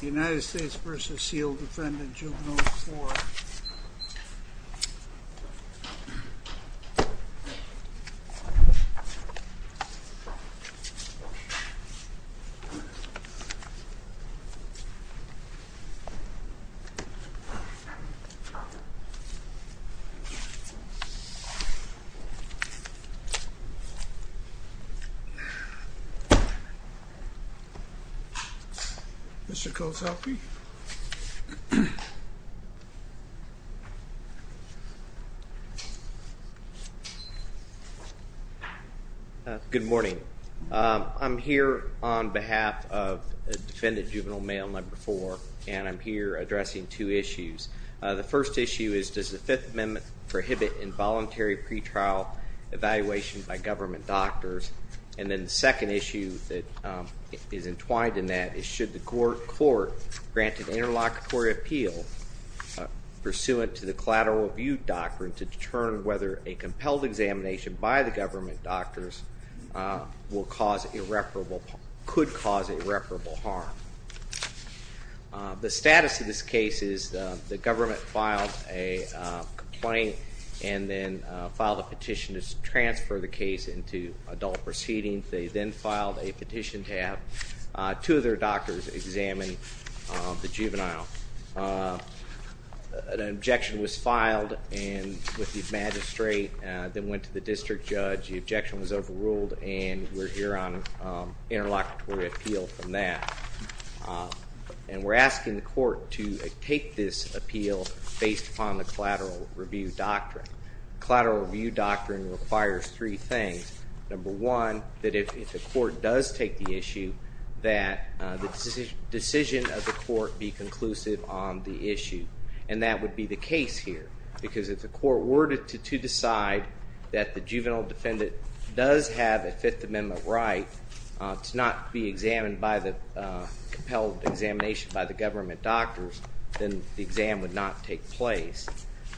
United States v. Sealed Defendant Juvenile 4 Mr. Koselke Good morning. I'm here on behalf of Defendant Juvenile Mail No. 4 and I'm here addressing two issues. The first issue is, does the Fifth Amendment prohibit involuntary pretrial evaluation by government doctors? And then the second issue that is entwined in that is, should the court grant an interlocutory appeal pursuant to the collateral review doctrine to determine whether a compelled examination by the government doctors could cause irreparable harm? The status of this case is the government filed a complaint and then filed a petition to transfer the case into adult proceedings. They then filed a petition to have two of their doctors examine the juvenile. An objection was filed with the magistrate, then went to the district judge. The objection was overruled and we're here on interlocutory appeal from that. And we're asking the court to take this appeal based upon the collateral review doctrine. Collateral review doctrine requires three things. Number one, that if the court does take the issue, that the decision of the court be conclusive on the issue. And that would be the case here because if the court were to decide that the juvenile defendant does have a Fifth Amendment right to not be examined by the compelled examination by the government doctors, then the exam would not take place.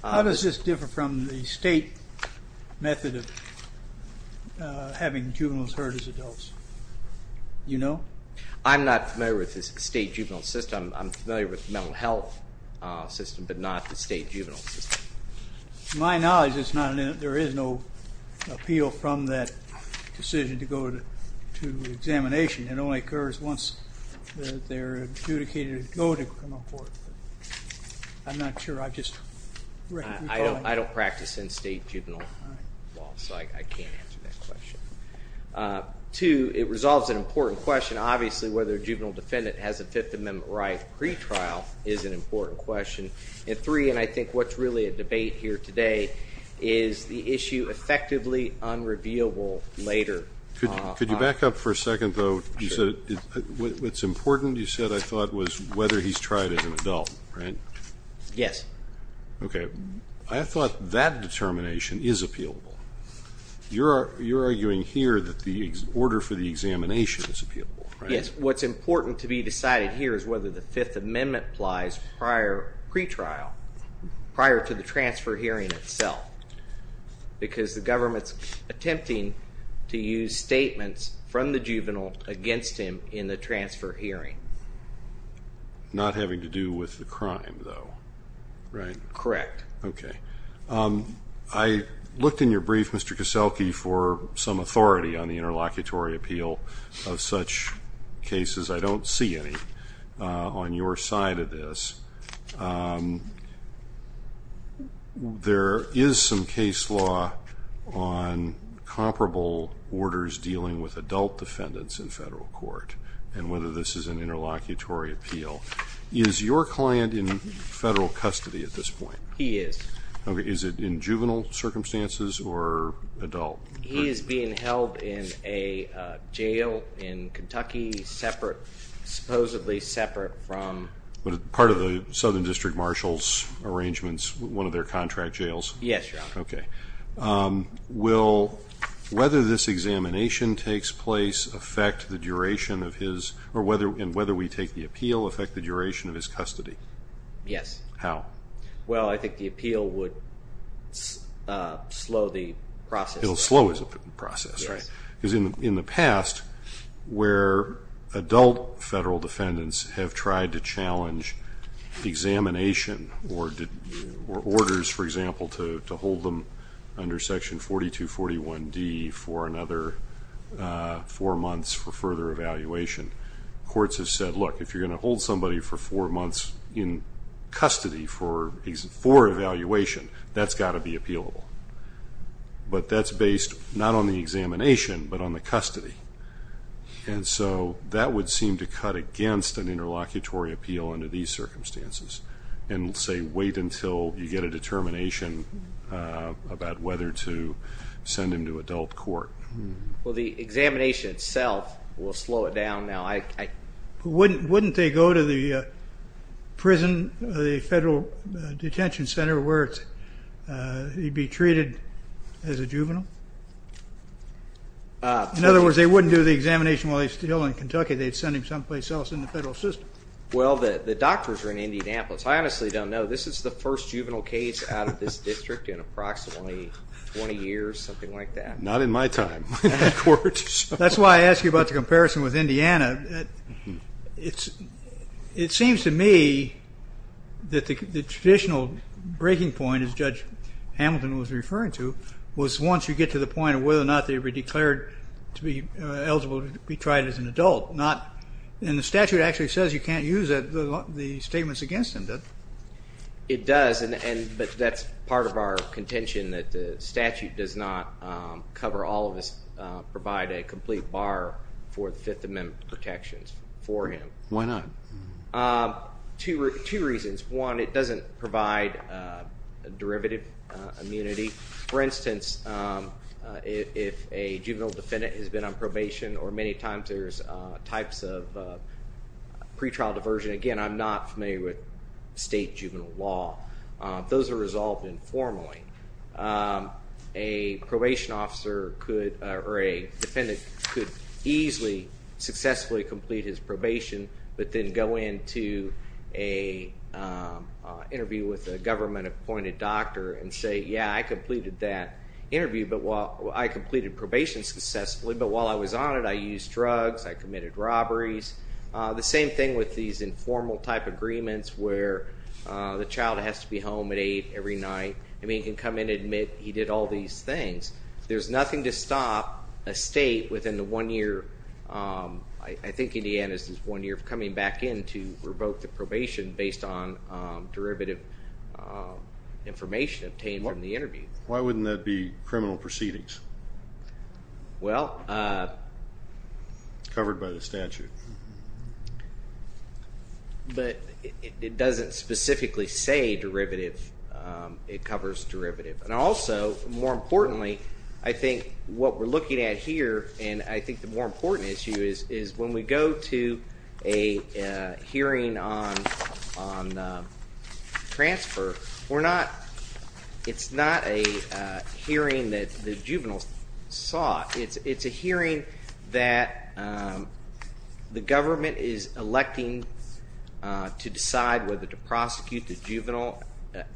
How does this differ from the state method of having juveniles heard as adults? You know? I'm not familiar with the state juvenile system. I'm familiar with the mental health system, but not the state juvenile system. To my knowledge, there is no appeal from that decision to go to examination. It only occurs once they're adjudicated to go to criminal court. I'm not sure. I just recognize that. I don't practice in state juvenile law, so I can't answer that question. Two, it resolves an important question. Obviously, whether a juvenile defendant has a Fifth Amendment right pre-trial is an important question. And three, and I think what's really a debate here today, is the issue effectively unrevealable later. Could you back up for a second, though? What's important, you said, I thought, was whether he's tried as an adult, right? Yes. Okay. I thought that determination is appealable. You're arguing here that the order for the examination is appealable, right? Yes, what's important to be decided here is whether the Fifth Amendment applies prior pre-trial, prior to the transfer hearing itself, because the government's attempting to use statements from the juvenile against him in the transfer hearing. Not having to do with the crime, though, right? Correct. Okay. I looked in your brief, Mr. Kaselke, for some authority on the interlocutory appeal of such cases. I don't see any on your side of this. There is some case law on comparable orders dealing with adult defendants in federal court, and whether this is an interlocutory appeal. Is your client in federal custody at this point? He is. Okay. Is it in juvenile circumstances or adult? He is being held in a jail in Kentucky, supposedly separate from... Part of the Southern District Marshal's arrangements, one of their contract jails? Yes, Your Honor. Okay. Will whether this examination takes place affect the duration of his, and whether we take the appeal affect the duration of his custody? Yes. How? Well, I think the appeal would slow the process. It will slow the process, right? Yes. Because in the past, where adult federal defendants have tried to challenge examination or orders, for example, to hold them under Section 4241D for another four months for further evaluation, courts have said, look, if you're going to hold somebody for four months in custody for evaluation, that's got to be appealable. But that's based not on the examination but on the custody. And so that would seem to cut against an interlocutory appeal under these circumstances and say wait until you get a determination about whether to send him to adult court. Well, the examination itself will slow it down. Wouldn't they go to the prison, the federal detention center where he'd be treated as a juvenile? In other words, they wouldn't do the examination while he was still in Kentucky. They'd send him someplace else in the federal system. Well, the doctors are in Indianapolis. I honestly don't know. This is the first juvenile case out of this district in approximately 20 years, something like that. Not in my time in that court. That's why I asked you about the comparison with Indiana. It seems to me that the traditional breaking point, as Judge Hamilton was referring to, was once you get to the point of whether or not they were declared to be eligible to be tried as an adult. And the statute actually says you can't use the statements against them, doesn't it? It does, but that's part of our contention that the statute does not cover all of this, provide a complete bar for the Fifth Amendment protections for him. Why not? Two reasons. One, it doesn't provide derivative immunity. For instance, if a juvenile defendant has been on probation, or many times there's types of pretrial diversion. Again, I'm not familiar with state juvenile law. Those are resolved informally. A probation officer or a defendant could easily successfully complete his probation, but then go into an interview with a government-appointed doctor and say, yeah, I completed that interview, I completed probation successfully, but while I was on it I used drugs, I committed robberies. The same thing with these informal type agreements where the child has to be home at 8 every night and he can come in and admit he did all these things. There's nothing to stop a state within the one year, I think Indiana is this one year, of coming back in to revoke the probation based on derivative information obtained from the interview. Why wouldn't that be criminal proceedings? Well. Covered by the statute. But it doesn't specifically say derivative, it covers derivative. And also, more importantly, I think what we're looking at here, and I think the more important issue is when we go to a hearing on transfer, we're not, it's not a hearing that the juveniles saw, it's a hearing that the government is electing to decide whether to prosecute the juvenile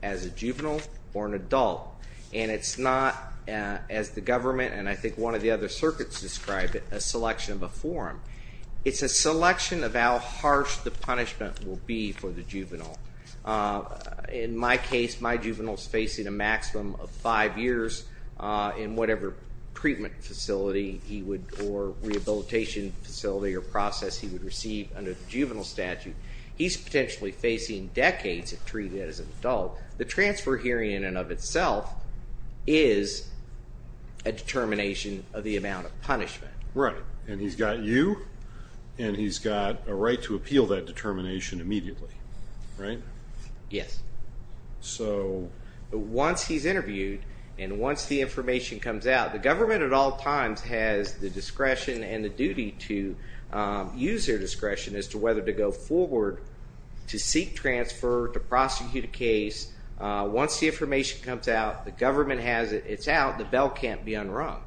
as a juvenile or an adult. And it's not, as the government and I think one of the other circuits describe it, a selection of a forum. It's a selection of how harsh the punishment will be for the juvenile. In my case, my juvenile is facing a maximum of five years in whatever treatment facility he would, or rehabilitation facility or process he would receive under the juvenile statute. He's potentially facing decades of treatment as an adult. The transfer hearing in and of itself is a determination of the amount of punishment. Right. And he's got you and he's got a right to appeal that determination immediately. Right? Yes. So once he's interviewed and once the information comes out, the government at all times has the discretion and the duty to use their discretion as to whether to go forward to seek transfer, to prosecute a case. Once the information comes out, the government has it, it's out, the bell can't be unrung.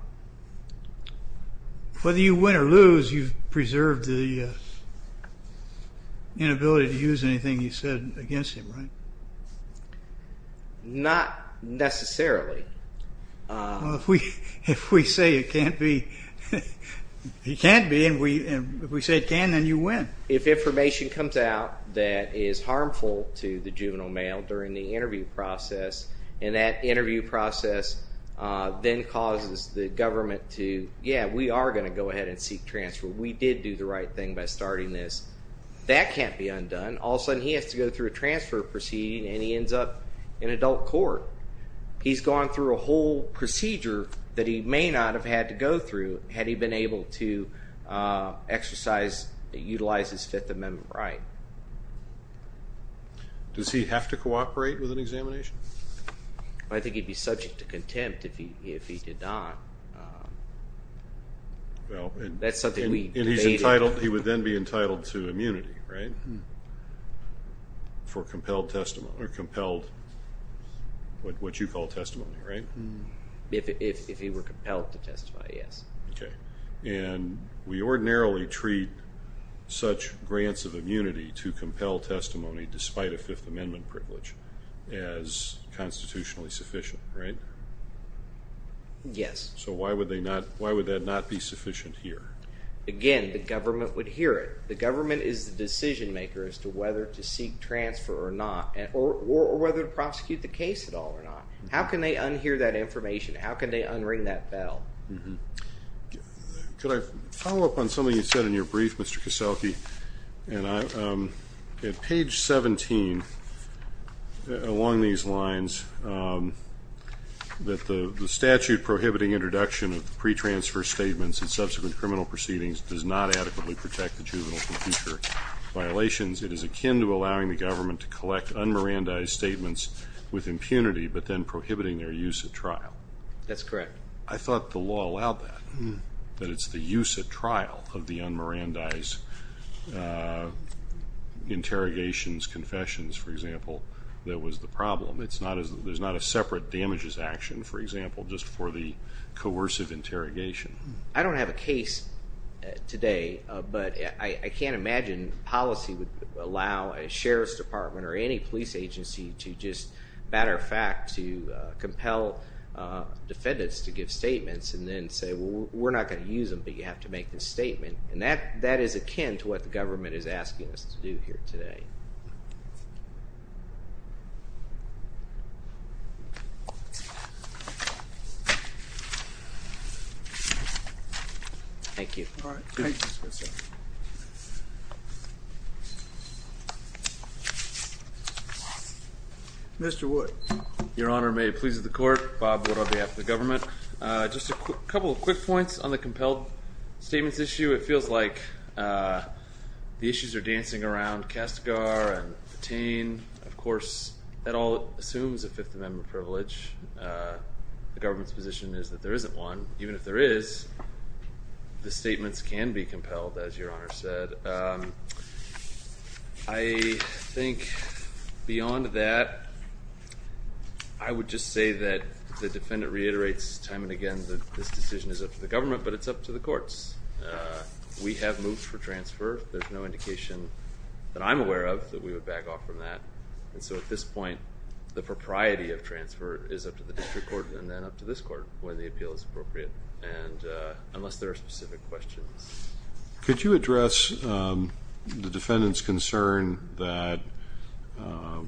Whether you win or lose, you've preserved the inability to use anything you said against him, right? Not necessarily. Well, if we say it can't be, he can't be, and if we say it can, then you win. If information comes out that is harmful to the juvenile male during the interview process and that interview process then causes the government to, yeah, we are going to go ahead and seek transfer, we did do the right thing by starting this, that can't be undone. All of a sudden he has to go through a transfer proceeding and he ends up in adult court. He's gone through a whole procedure that he may not have had to go through had he been able to exercise, utilize his Fifth Amendment right. Does he have to cooperate with an examination? I think he'd be subject to contempt if he did not. That's something we debated. And he's entitled, he would then be entitled to immunity, right, for compelled testimony, or compelled, what you call testimony, right? If he were compelled to testify, yes. Okay. And we ordinarily treat such grants of immunity to compel testimony despite a Fifth Amendment privilege as constitutionally sufficient, right? Yes. So why would that not be sufficient here? Again, the government would hear it. The government is the decision maker as to whether to seek transfer or not or whether to prosecute the case at all or not. How can they unhear that information? How can they unring that bell? Could I follow up on something you said in your brief, Mr. Kaselke? At page 17, along these lines, that the statute prohibiting introduction of pre-transfer statements in subsequent criminal proceedings does not adequately protect the juvenile from future violations. It is akin to allowing the government to collect un-mirandized statements with impunity but then prohibiting their use at trial. That's correct. I thought the law allowed that, that it's the use at trial of the un-mirandized interrogations, confessions, for example, that was the problem. There's not a separate damages action, for example, just for the coercive interrogation. I don't have a case today, but I can't imagine policy would allow a sheriff's department or any police agency to just, matter of fact, to compel defendants to give statements and then say, well, we're not going to use them, but you have to make this statement. And that is akin to what the government is asking us to do here today. Thank you. All right. Thank you. Mr. Wood. Your Honor, may it please the Court, Bob Wood on behalf of the government. Just a couple of quick points on the compelled statements issue. It feels like the issues are dancing around Kastigar and Patain. Of course, that all assumes a Fifth Amendment privilege. The government's position is that there isn't one. Even if there is, the statements can be compelled, as Your Honor said. I think beyond that, I would just say that the defendant reiterates time and again that this decision is up to the government, but it's up to the courts. We have moved for transfer. There's no indication that I'm aware of that we would back off from that. And so at this point, the propriety of transfer is up to the district court and then up to this court when the appeal is appropriate, unless there are specific questions. Could you address the defendant's concern that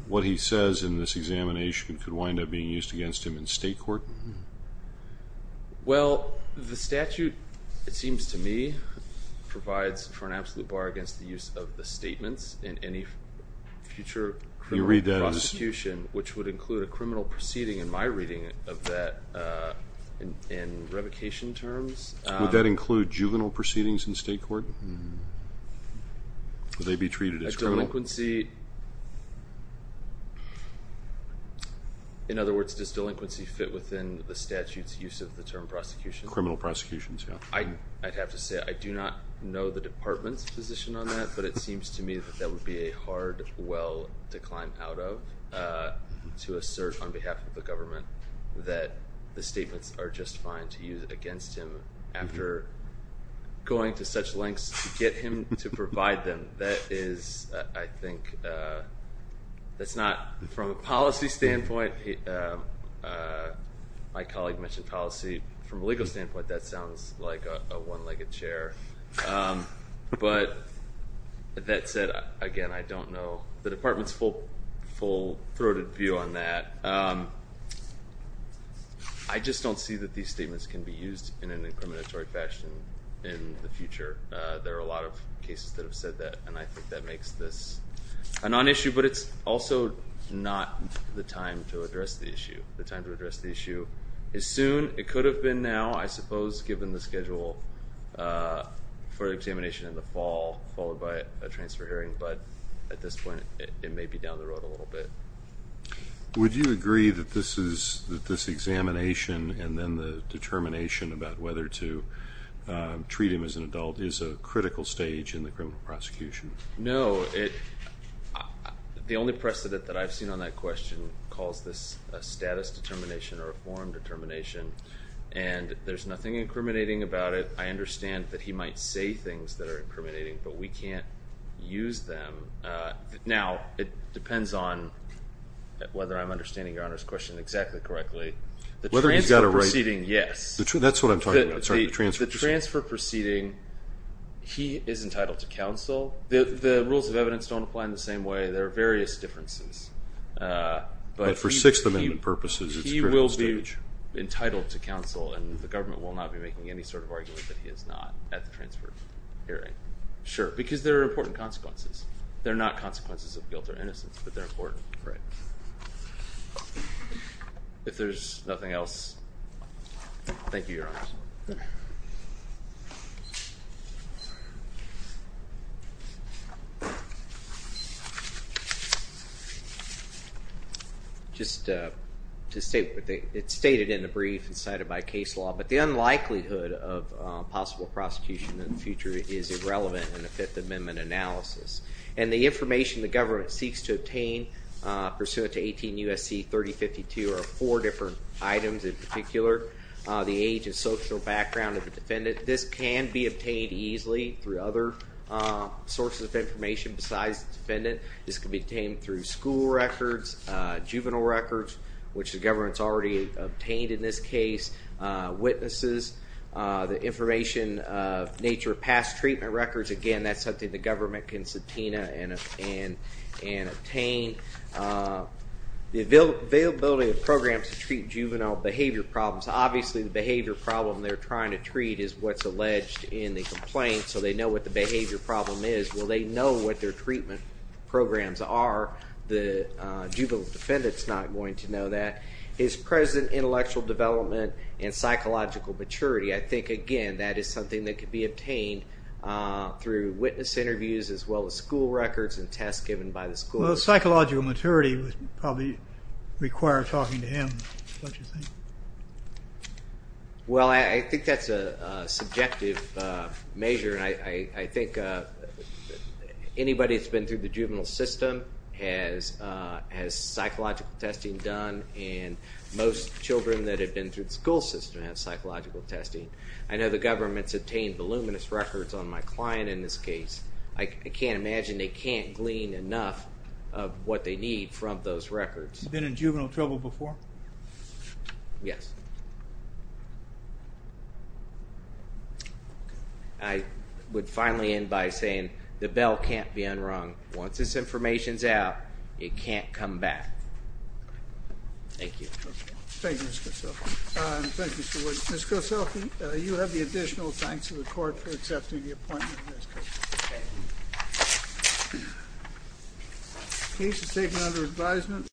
what he says in this examination could wind up being used against him in state court? Well, the statute, it seems to me, provides for an absolute bar against the use of the statements in any future criminal prosecution, which would include a criminal proceeding, in my reading of that, in revocation terms. Would that include juvenile proceedings in state court? Would they be treated as criminal? A delinquency, in other words, does delinquency fit within the statute's use of the term prosecution? Criminal prosecutions, yeah. I'd have to say I do not know the department's position on that, but it seems to me that that would be a hard well to climb out of to assert on behalf of the government that the statements are just fine to use against him after going to such lengths to get him to provide them. That is, I think, that's not from a policy standpoint. My colleague mentioned policy. From a legal standpoint, that sounds like a one-legged chair. But that said, again, I don't know the department's full-throated view on that. I just don't see that these statements can be used in an incriminatory fashion in the future. There are a lot of cases that have said that, and I think that makes this a non-issue, but it's also not the time to address the issue. The time to address the issue is soon. It could have been now, I suppose, given the schedule for examination in the fall followed by a transfer hearing, but at this point it may be down the road a little bit. Would you agree that this examination and then the determination about whether to treat him as an adult is a critical stage in the criminal prosecution? No. The only precedent that I've seen on that question calls this a status determination or a form determination, and there's nothing incriminating about it. I understand that he might say things that are incriminating, but we can't use them. Now, it depends on whether I'm understanding Your Honor's question exactly correctly. The transfer proceeding, yes. That's what I'm talking about. The transfer proceeding, he is entitled to counsel. The rules of evidence don't apply in the same way. There are various differences. But for Sixth Amendment purposes, it's a critical stage. He will be entitled to counsel, and the government will not be making any sort of argument that he is not at the transfer hearing. Sure, because there are important consequences. They're not consequences of guilt or innocence, but they're important. Right. If there's nothing else, thank you, Your Honor. Okay. Just to state, it's stated in the brief and cited by case law, but the unlikelihood of possible prosecution in the future is irrelevant in a Fifth Amendment analysis. And the information the government seeks to obtain pursuant to 18 U.S.C. 3052 are four different items in particular. The age and social background of the defendant. This can be obtained through school records, juvenile records, which the government's already obtained in this case. Witnesses. The information of nature of past treatment records. Again, that's something the government can subpoena and obtain. The availability of programs to treat juvenile behavior problems. Obviously, the behavior problem they're trying to treat is what's alleged in the complaint, so they know what the behavior problem is. Well, they know what their treatment programs are. The juvenile defendant's not going to know that. His present intellectual development and psychological maturity. I think, again, that is something that can be obtained through witness interviews as well as school records and tests given by the school. Well, psychological maturity would probably require talking to him, don't you think? Well, I think that's a subjective measure, and I think anybody that's been through the juvenile system has psychological testing done, and most children that have been through the school system have psychological testing. I know the government's obtained voluminous records on my client in this case. I can't imagine they can't glean enough of what they need from those records. Been in juvenile trouble before? Yes. I would finally end by saying the bell can't be unrung. Once this information's out, it can't come back. Thank you. Thank you, Mr. Cosell. Thank you so much. Ms. Cosell, you have the additional thanks of the court for accepting the appointment of Ms. Cosell. Okay. The case is taken under advisement.